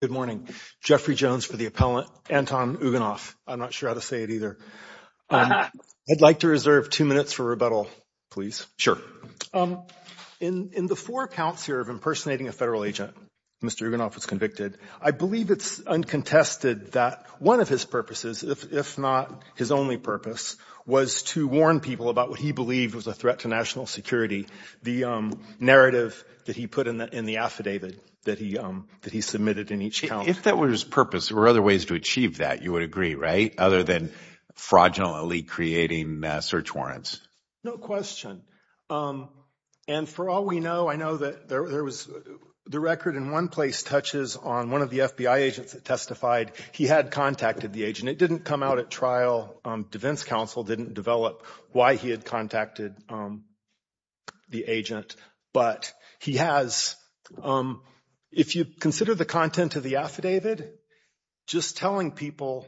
Good morning. Geoffrey Jones for the appellant. Anton Iagounov. I'm not sure how to say it either. I'd like to reserve two minutes for rebuttal, please. Sure. In the four counts here of impersonating a federal agent, Mr. Iagounov was convicted. I believe it's uncontested that one of his purposes, if not his only purpose, was to warn people about what he believed was a threat to national security. The narrative that he put in the affidavit that he submitted in each count. If that were his purpose, there were other ways to achieve that, you would agree, right? Other than fraudulently creating search warrants. No question. And for all we know, I know that there was the record in one place touches on one of the FBI agents that testified he had contacted the agent. It didn't come out at trial. Defense counsel didn't develop why he had contacted the agent. But he has, if you consider the content of the affidavit, just telling people,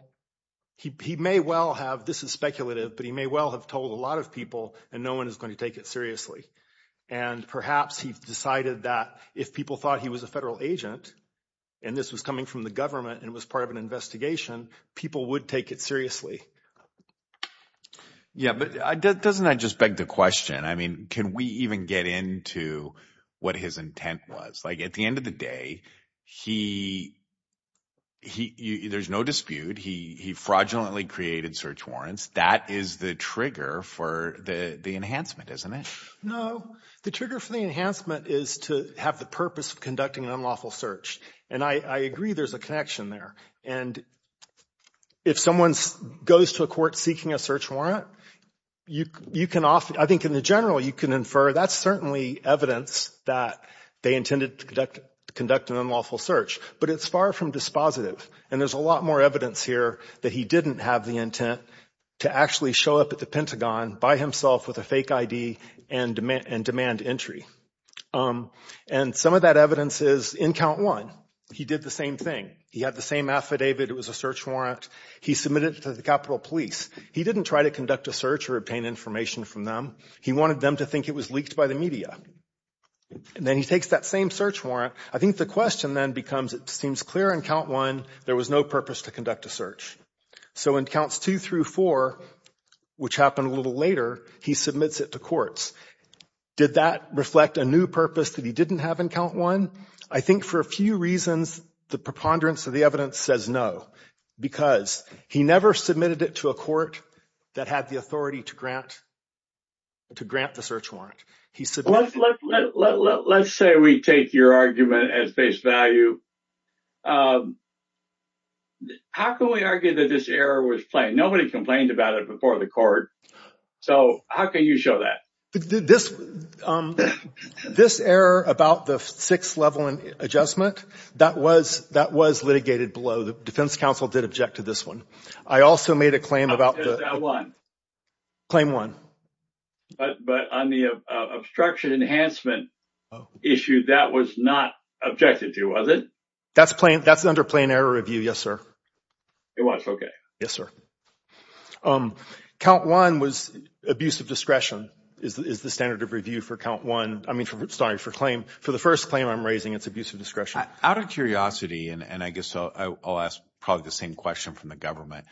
he may well have, this is speculative, but he may well have told a lot of people and no one is going to take it seriously. And perhaps he decided that if people thought he was a federal agent, and this was coming from the government, and it was part of an investigation, people would take it seriously. Yeah, but doesn't that just beg the question? I mean, can we even get into what his intent was? Like at the end of the day, there's no dispute. He fraudulently created search warrants. That is the trigger for the enhancement, isn't it? No. The trigger for the enhancement is to have the purpose of conducting an unlawful search. And I agree there's a connection there. And if someone goes to a court seeking a search warrant, I think in general you can infer that's certainly evidence that they intended to conduct an unlawful search. But it's far from dispositive. And there's a lot more evidence here that he didn't have the intent to actually show up at the Pentagon by himself with a fake ID and demand entry. And some of that evidence is in count one. He did the same thing. He had the same affidavit. It was a search warrant. He submitted it to the Capitol Police. He didn't try to conduct a search or obtain information from them. He wanted them to think it was leaked by the media. And then he takes that same search warrant. I think the question then becomes it seems clear in count one there was no purpose to conduct a search. So in counts two through four, which happened a little later, he submits it to courts. Did that reflect a new purpose that he didn't have in count one? I think for a few reasons the preponderance of the evidence says no, because he never submitted it to a court that had the authority to grant the search warrant. Let's say we take your argument at face value. How can we argue that this error was plain? Nobody complained about it before the court. So how can you show that? This error about the six-level adjustment, that was litigated below. The defense counsel did object to this one. I also made a claim about the – Claim one. Claim one. But on the obstruction enhancement issue, that was not objected to, was it? That's under plain error review, yes, sir. It was, okay. Yes, sir. Count one was abuse of discretion is the standard of review for count one. I mean, sorry, for the first claim I'm raising, it's abuse of discretion. Out of curiosity, and I guess I'll ask probably the same question from the government,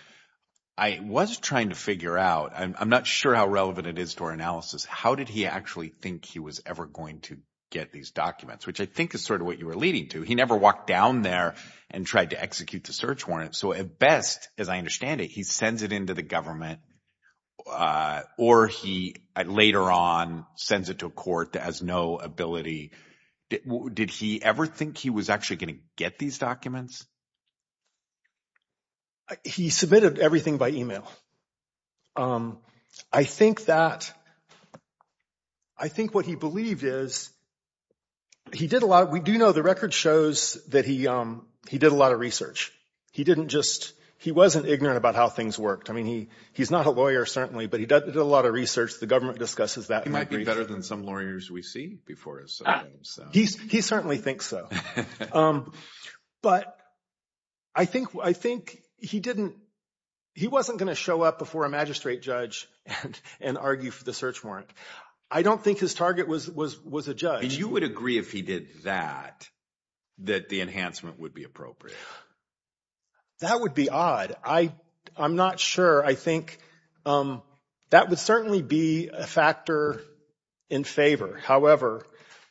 I was trying to figure out. I'm not sure how relevant it is to our analysis. How did he actually think he was ever going to get these documents, which I think is sort of what you were leading to. He never walked down there and tried to execute the search warrant. So at best, as I understand it, he sends it into the government, or he later on sends it to a court that has no ability. Did he ever think he was actually going to get these documents? He submitted everything by e-mail. I think that, I think what he believed is, he did a lot, we do know, the record shows that he did a lot of research. He didn't just, he wasn't ignorant about how things worked. I mean, he's not a lawyer, certainly, but he did a lot of research. The government discusses that. He might be better than some lawyers we see before us. He certainly thinks so. But I think he didn't, he wasn't going to show up before a magistrate judge and argue for the search warrant. I don't think his target was a judge. You would agree if he did that, that the enhancement would be appropriate? That would be odd. I'm not sure. I think that would certainly be a factor in favor. However,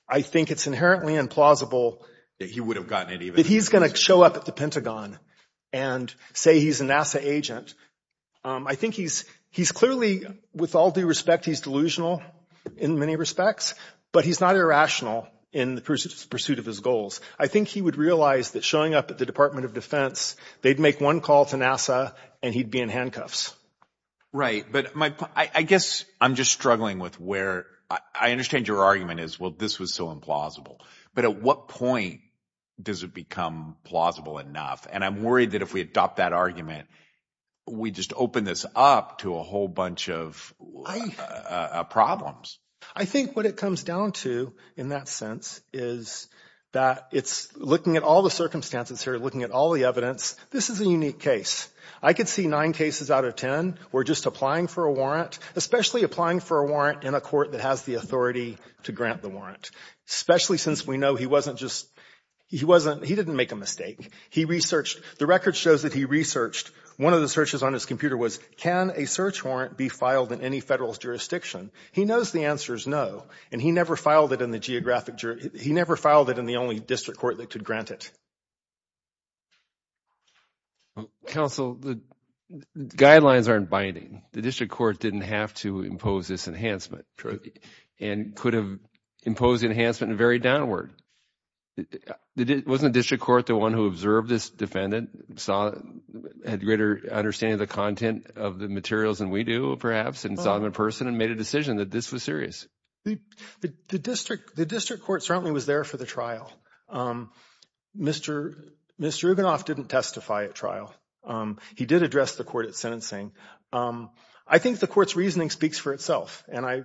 I think it's inherently implausible that he's going to show up at the Pentagon and say he's a NASA agent. I think he's clearly, with all due respect, he's delusional in many respects, but he's not irrational in the pursuit of his goals. I think he would realize that showing up at the Department of Defense, they'd make one call to NASA and he'd be in handcuffs. Right, but I guess I'm just struggling with where, I understand your argument is, well, this was so implausible. But at what point does it become plausible enough? And I'm worried that if we adopt that argument, we just open this up to a whole bunch of life problems. I think what it comes down to, in that sense, is that it's looking at all the circumstances here, looking at all the evidence. This is a unique case. I could see nine cases out of ten where just applying for a warrant, especially applying for a warrant in a court that has the authority to grant the warrant, especially since we know he wasn't just, he didn't make a mistake. He researched, the record shows that he researched, one of the searches on his computer was, can a search warrant be filed in any federal jurisdiction? He knows the answer is no, and he never filed it in the geographic, he never filed it in the only district court that could grant it. Counsel, the guidelines aren't binding. The district court didn't have to impose this enhancement and could have imposed the enhancement and varied downward. Wasn't the district court the one who observed this defendant, had greater understanding of the content of the materials than we do, perhaps, and saw him in person and made a decision that this was serious? The district court certainly was there for the trial. Mr. Rubinoff didn't testify at trial. He did address the court at sentencing. I think the court's reasoning speaks for itself, and I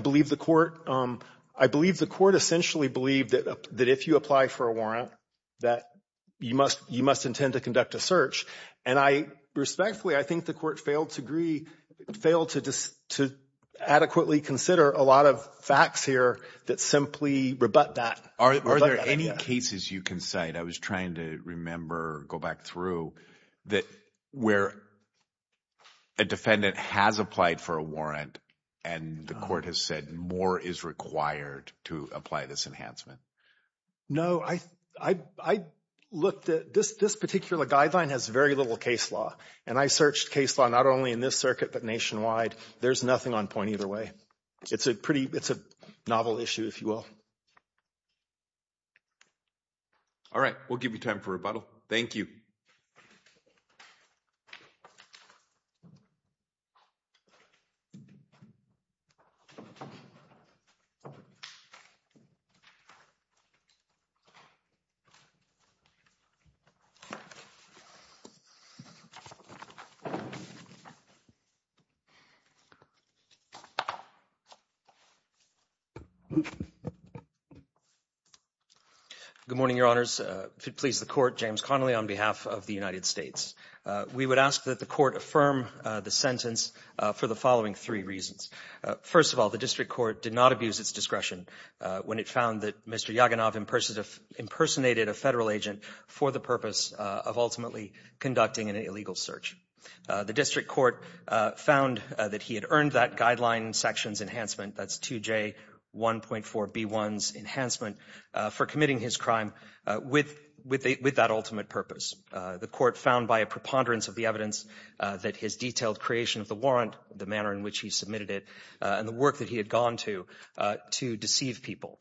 believe the court essentially believed that if you apply for a warrant, that you must intend to conduct a search, and respectfully, I think the court failed to adequately consider a lot of facts here that simply rebut that idea. Are there any cases you can cite? I was trying to remember, go back through, that where a defendant has applied for a warrant and the court has said more is required to apply this enhancement. No, I looked at this particular guideline has very little case law, and I searched case law not only in this circuit but nationwide. There's nothing on point either way. It's a novel issue, if you will. All right. We'll give you time for rebuttal. Thank you. Good morning, Your Honors. If it pleases the court, James Connolly on behalf of the United States. We would ask that the court affirm the sentence for the following three reasons. First of all, the district court did not abuse its discretion when it found that Mr. Yaganov impersonated a federal agent for the purpose of ultimately conducting an illegal search. The district court found that he had earned that guideline section enhancement, that's 2J1.4B1's enhancement, for committing his crime with that ultimate purpose. The court found by a preponderance of the evidence that his detailed creation of the warrant, the manner in which he submitted it, and the work that he had gone to to deceive people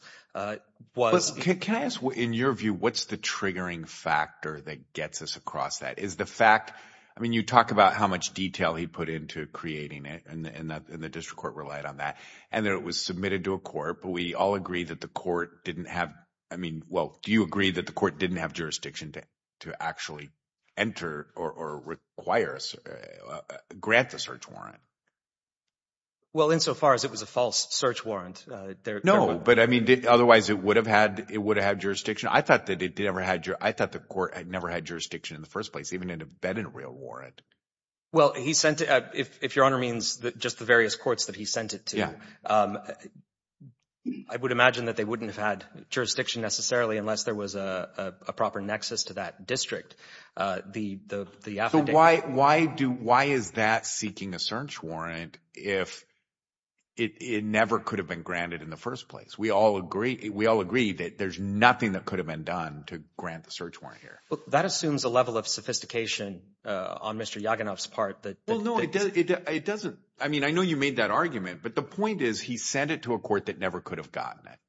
was. Can I ask, in your view, what's the triggering factor that gets us across that? Is the fact, I mean, you talk about how much detail he put into creating it and the district court relied on that, and that it was submitted to a court, but we all agree that the court didn't have, I mean, well, do you agree that the court didn't have jurisdiction to actually enter or grant the search warrant? Well, insofar as it was a false search warrant. No, but, I mean, otherwise it would have had jurisdiction. I thought the court had never had jurisdiction in the first place, even if it had been a real warrant. Well, he sent it, if Your Honor means just the various courts that he sent it to. I would imagine that they wouldn't have had jurisdiction necessarily unless there was a proper nexus to that district. So why is that seeking a search warrant if it never could have been granted in the first place? We all agree that there's nothing that could have been done to grant the search warrant here. Well, that assumes a level of sophistication on Mr. Yaginov's part. Well, no, it doesn't. I mean, I know you made that argument, but the point is he sent it to a court that never could have gotten it.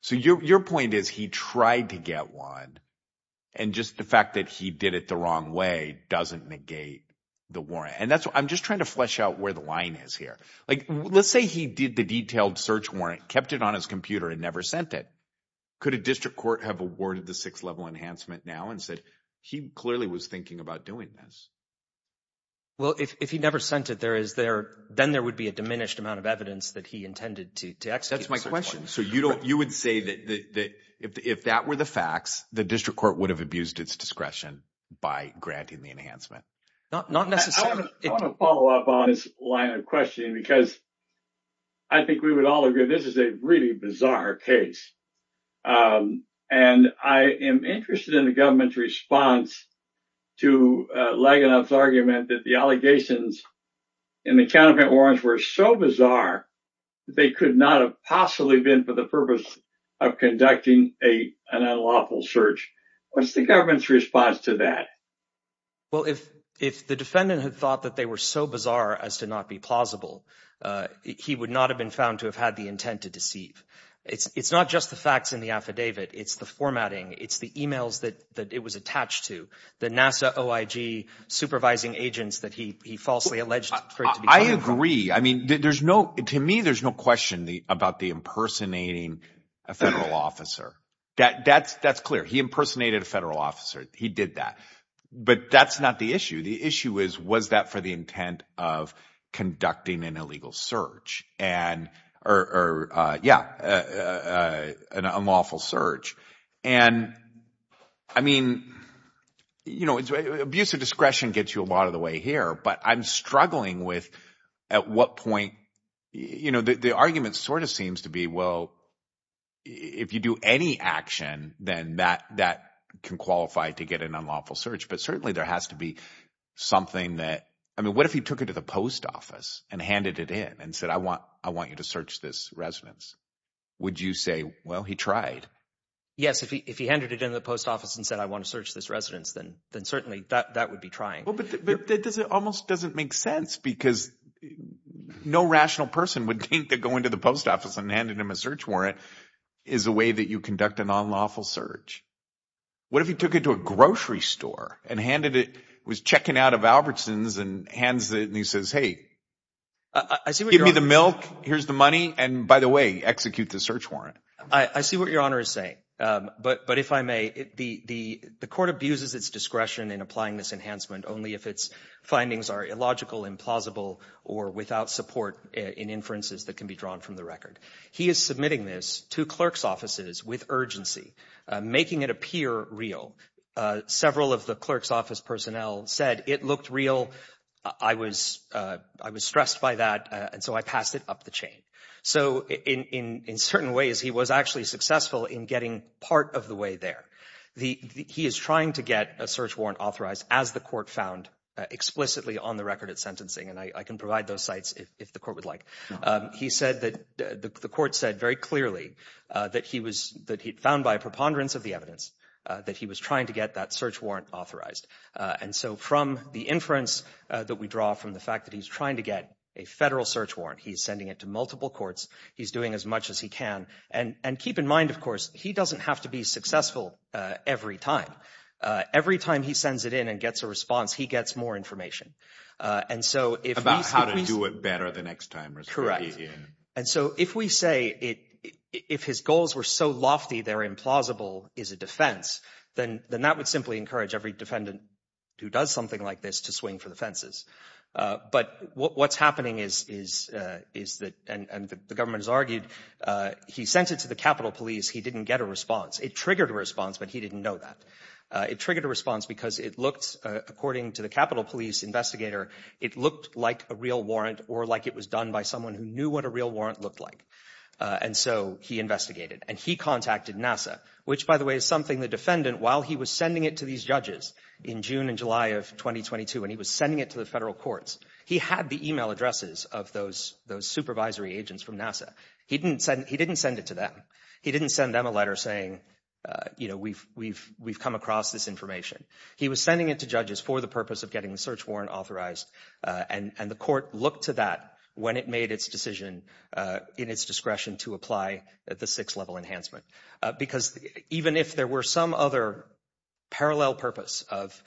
So your point is he tried to get one, and just the fact that he did it the wrong way doesn't negate the warrant. And I'm just trying to flesh out where the line is here. Like, let's say he did the detailed search warrant, kept it on his computer, and never sent it. Could a district court have awarded the sixth-level enhancement now and said he clearly was thinking about doing this? Well, if he never sent it, then there would be a diminished amount of evidence that he intended to execute the search warrant. That's my question. So you would say that if that were the facts, the district court would have abused its discretion by granting the enhancement? Not necessarily. I want to follow up on this line of questioning because I think we would all agree this is a really bizarre case. And I am interested in the government's response to Laganov's argument that the allegations in the counterfeit warrants were so bizarre that they could not have possibly been for the purpose of conducting an unlawful search. What's the government's response to that? Well, if the defendant had thought that they were so bizarre as to not be plausible, he would not have been found to have had the intent to deceive. It's not just the facts in the affidavit. It's the formatting. It's the e-mails that it was attached to, the NASA OIG supervising agents that he falsely alleged for it to be coming from. I agree. I mean, to me, there's no question about the impersonating a federal officer. That's clear. He impersonated a federal officer. He did that. But that's not the issue. The issue is was that for the intent of conducting an illegal search or, yeah, an unlawful search. And, I mean, you know, abuse of discretion gets you a lot of the way here, but I'm struggling with at what point, you know, the argument sort of seems to be, well, if you do any action, then that can qualify to get an unlawful search. But certainly there has to be something that – I mean, what if he took it to the post office and handed it in and said, I want you to search this residence? Would you say, well, he tried? Yes. If he handed it in to the post office and said, I want to search this residence, then certainly that would be trying. Well, but that almost doesn't make sense because no rational person would think that going to the post office and handing him a search warrant is a way that you conduct an unlawful search. What if he took it to a grocery store and handed it – was checking out of Albertson's and hands it and he says, hey, give me the milk, here's the money, and by the way, execute the search warrant. I see what Your Honor is saying. But if I may, the court abuses its discretion in applying this enhancement only if its findings are illogical, implausible, or without support in inferences that can be drawn from the record. He is submitting this to clerk's offices with urgency, making it appear real. Several of the clerk's office personnel said it looked real, I was stressed by that, and so I passed it up the chain. So in certain ways he was actually successful in getting part of the way there. He is trying to get a search warrant authorized as the court found explicitly on the record at sentencing, and I can provide those sites if the court would like. He said that the court said very clearly that he found by preponderance of the evidence that he was trying to get that search warrant authorized. And so from the inference that we draw from the fact that he's trying to get a federal search warrant, he's sending it to multiple courts, he's doing as much as he can. And keep in mind, of course, he doesn't have to be successful every time. Every time he sends it in and gets a response, he gets more information. About how to do it better the next time. Correct. And so if we say if his goals were so lofty they're implausible is a defense, then that would simply encourage every defendant who does something like this to swing for the fences. But what's happening is that, and the government has argued, he sent it to the Capitol Police, he didn't get a response. It triggered a response, but he didn't know that. It triggered a response because it looked, according to the Capitol Police investigator, it looked like a real warrant or like it was done by someone who knew what a real warrant looked like. And so he investigated. And he contacted NASA, which, by the way, is something the defendant, while he was sending it to these judges in June and July of 2022, when he was sending it to the federal courts, he had the email addresses of those supervisory agents from NASA. He didn't send it to them. He didn't send them a letter saying, you know, we've come across this information. He was sending it to judges for the purpose of getting the search warrant authorized, and the court looked to that when it made its decision in its discretion to apply the six-level enhancement. Because even if there were some other parallel purpose of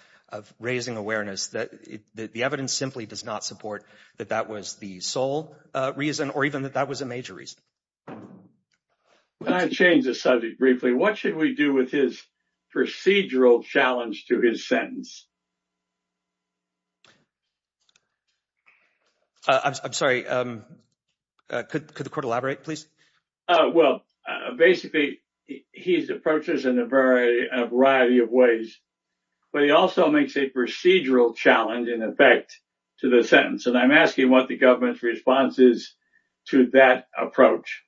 raising awareness, the evidence simply does not support that that was the sole reason or even that that was a major reason. Can I change the subject briefly? What should we do with his procedural challenge to his sentence? I'm sorry. Could the court elaborate, please? Well, basically, he's approaches in a variety of ways. But he also makes a procedural challenge in effect to the sentence. And I'm asking what the government's response is to that approach.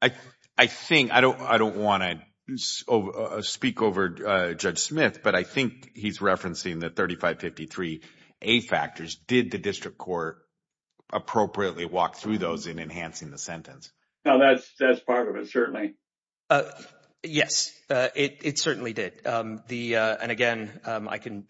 I think I don't I don't want to speak over Judge Smith, but I think he's referencing the 3553A factors. Did the district court appropriately walk through those in enhancing the sentence? Now, that's that's part of it, certainly. Yes, it certainly did. And again, I can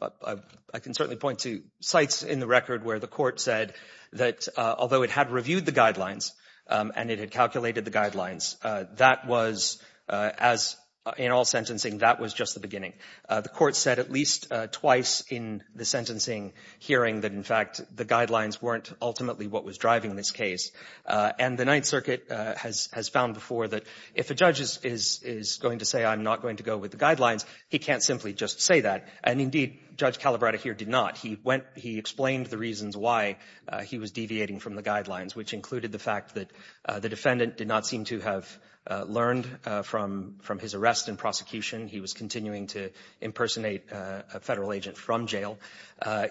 I can certainly point to sites in the record where the court said that although it had reviewed the guidelines and it had calculated the guidelines, that was as in all sentencing, that was just the beginning. The court said at least twice in the sentencing hearing that, in fact, the guidelines weren't ultimately what was driving this case. And the Ninth Circuit has has found before that if a judge is is going to say I'm not going to go with the guidelines, he can't simply just say that. And indeed, Judge Calabrata here did not. He went he explained the reasons why he was deviating from the guidelines, which included the fact that the defendant did not seem to have learned from from his arrest and prosecution. He was continuing to impersonate a federal agent from jail.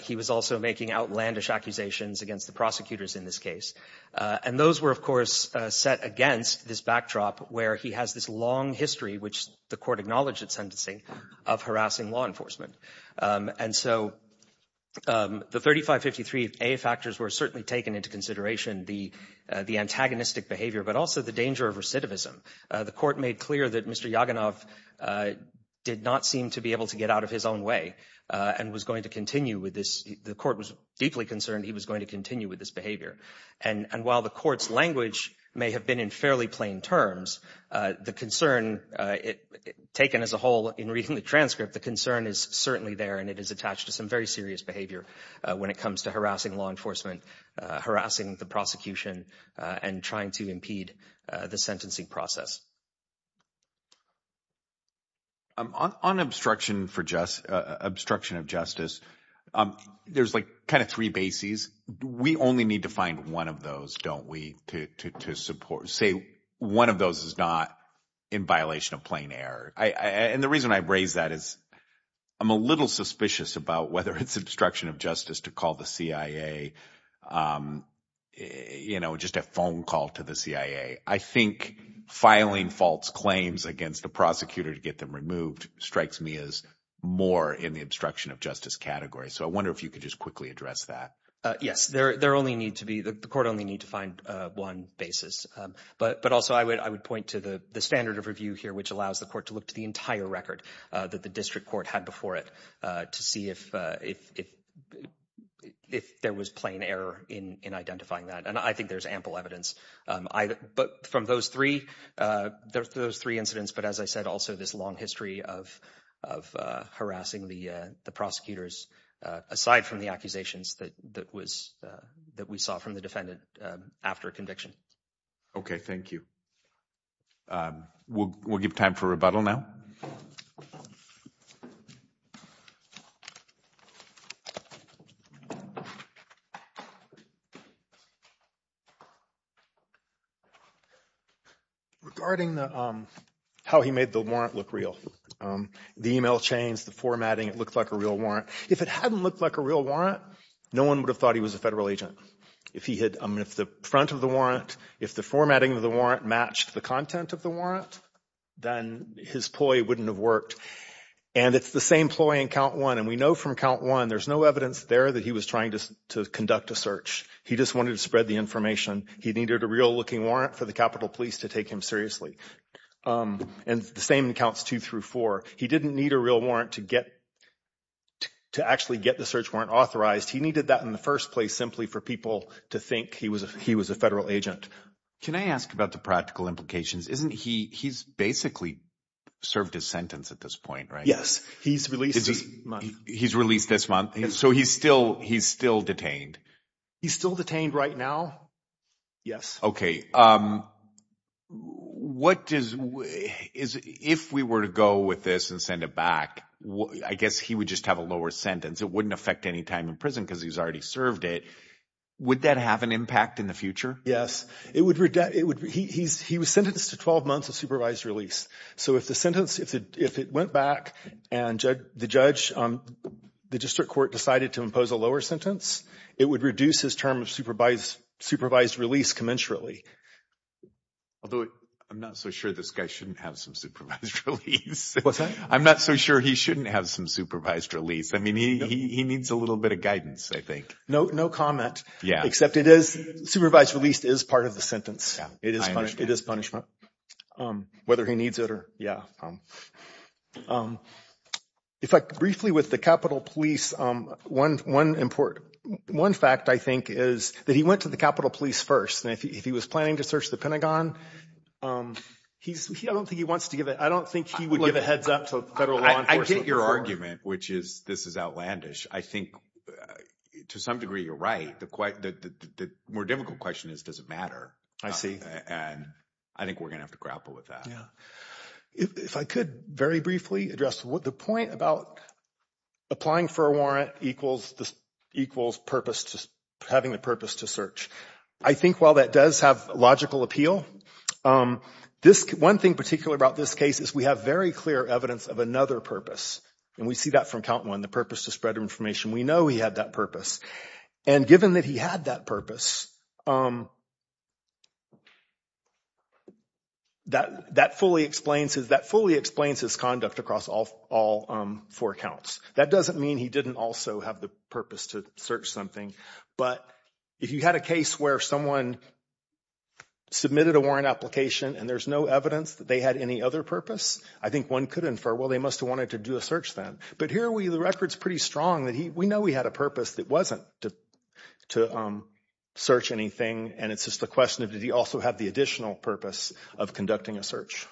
He was also making outlandish accusations against the prosecutors in this case. And those were, of course, set against this backdrop where he has this long history, which the court acknowledged at sentencing, of harassing law enforcement. And so the 3553A factors were certainly taken into consideration. The the antagonistic behavior, but also the danger of recidivism. The court made clear that Mr. Yaganov did not seem to be able to get out of his own way and was going to continue with this. The court was deeply concerned he was going to continue with this behavior. And while the court's language may have been in fairly plain terms, the concern taken as a whole in reading the transcript, the concern is certainly there and it is attached to some very serious behavior when it comes to harassing law enforcement, harassing the prosecution and trying to impede the sentencing process. On obstruction for just obstruction of justice, there's like kind of three bases. We only need to find one of those, don't we? To support, say, one of those is not in violation of plain air. And the reason I raise that is I'm a little suspicious about whether it's obstruction of justice to call the CIA, you know, just a phone call to the CIA. I think filing false claims against the prosecutor to get them removed strikes me as more in the obstruction of justice category. So I wonder if you could just quickly address that. Yes, there there only need to be the court only need to find one basis. But but also I would I would point to the standard of review here, which allows the court to look to the entire record that the district court had before it to see if if if there was plain error in identifying that. And I think there's ample evidence. But from those three, there's those three incidents. But as I said, also this long history of of harassing the prosecutors, aside from the accusations that that was that we saw from the defendant after conviction. OK, thank you. We'll give time for rebuttal now. Regarding how he made the warrant look real, the email chains, the formatting, it looked like a real warrant. If it hadn't looked like a real warrant, no one would have thought he was a federal agent. If he had the front of the warrant, if the formatting of the warrant matched the content of the warrant, then his ploy wouldn't have worked. And it's the same ploy in count one. And we know from count one, there's no evidence there that he was trying to conduct a search. He just wanted to spread the information. He needed a real looking warrant for the Capitol Police to take him seriously. And the same counts two through four. He didn't need a real warrant to get to actually get the search warrant authorized. He needed that in the first place simply for people to think he was he was a federal agent. Can I ask about the practical implications? Isn't he he's basically served his sentence at this point, right? Yes, he's released. He's released this month. And so he's still he's still detained. He's still detained right now. Yes. OK, what is it if we were to go with this and send it back? I guess he would just have a lower sentence. It wouldn't affect any time in prison because he's already served it. Would that have an impact in the future? Yes, it would. It would. He's he was sentenced to 12 months of supervised release. So if the sentence if it if it went back and the judge on the district court decided to impose a lower sentence, it would reduce his term of supervised supervised release commensurately. Although I'm not so sure this guy shouldn't have some supervised release. What's that? I'm not so sure he shouldn't have some supervised release. I mean, he he needs a little bit of guidance, I think. No, no comment. Yeah. Except it is supervised. Released is part of the sentence. It is. It is punishment. Whether he needs it or. Yeah. If I briefly with the Capitol Police, one one important one fact, I think, is that he went to the Capitol Police first. And if he was planning to search the Pentagon, he's he I don't think he wants to give it. I don't think he would give a heads up to federal law enforcement. I get your argument, which is this is outlandish. I think to some degree, you're right. The more difficult question is, does it matter? I see. And I think we're going to have to grapple with that. Yeah. If I could very briefly address what the point about applying for a warrant equals this equals purpose to having the purpose to search. I think while that does have logical appeal, this one thing particular about this case is we have very clear evidence of another purpose. And we see that from count one, the purpose to spread information. We know he had that purpose. And given that he had that purpose. That that fully explains is that fully explains his conduct across all four counts. That doesn't mean he didn't also have the purpose to search something. But if you had a case where someone submitted a warrant application and there's no evidence that they had any other purpose, I think one could infer, well, they must have wanted to do a search then. But here we the record's pretty strong that we know we had a purpose that wasn't to to search anything. And it's just the question of did he also have the additional purpose of conducting a search?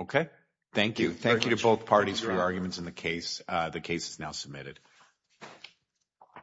OK, thank you. Thank you to both parties for your arguments in the case. The case is now submitted.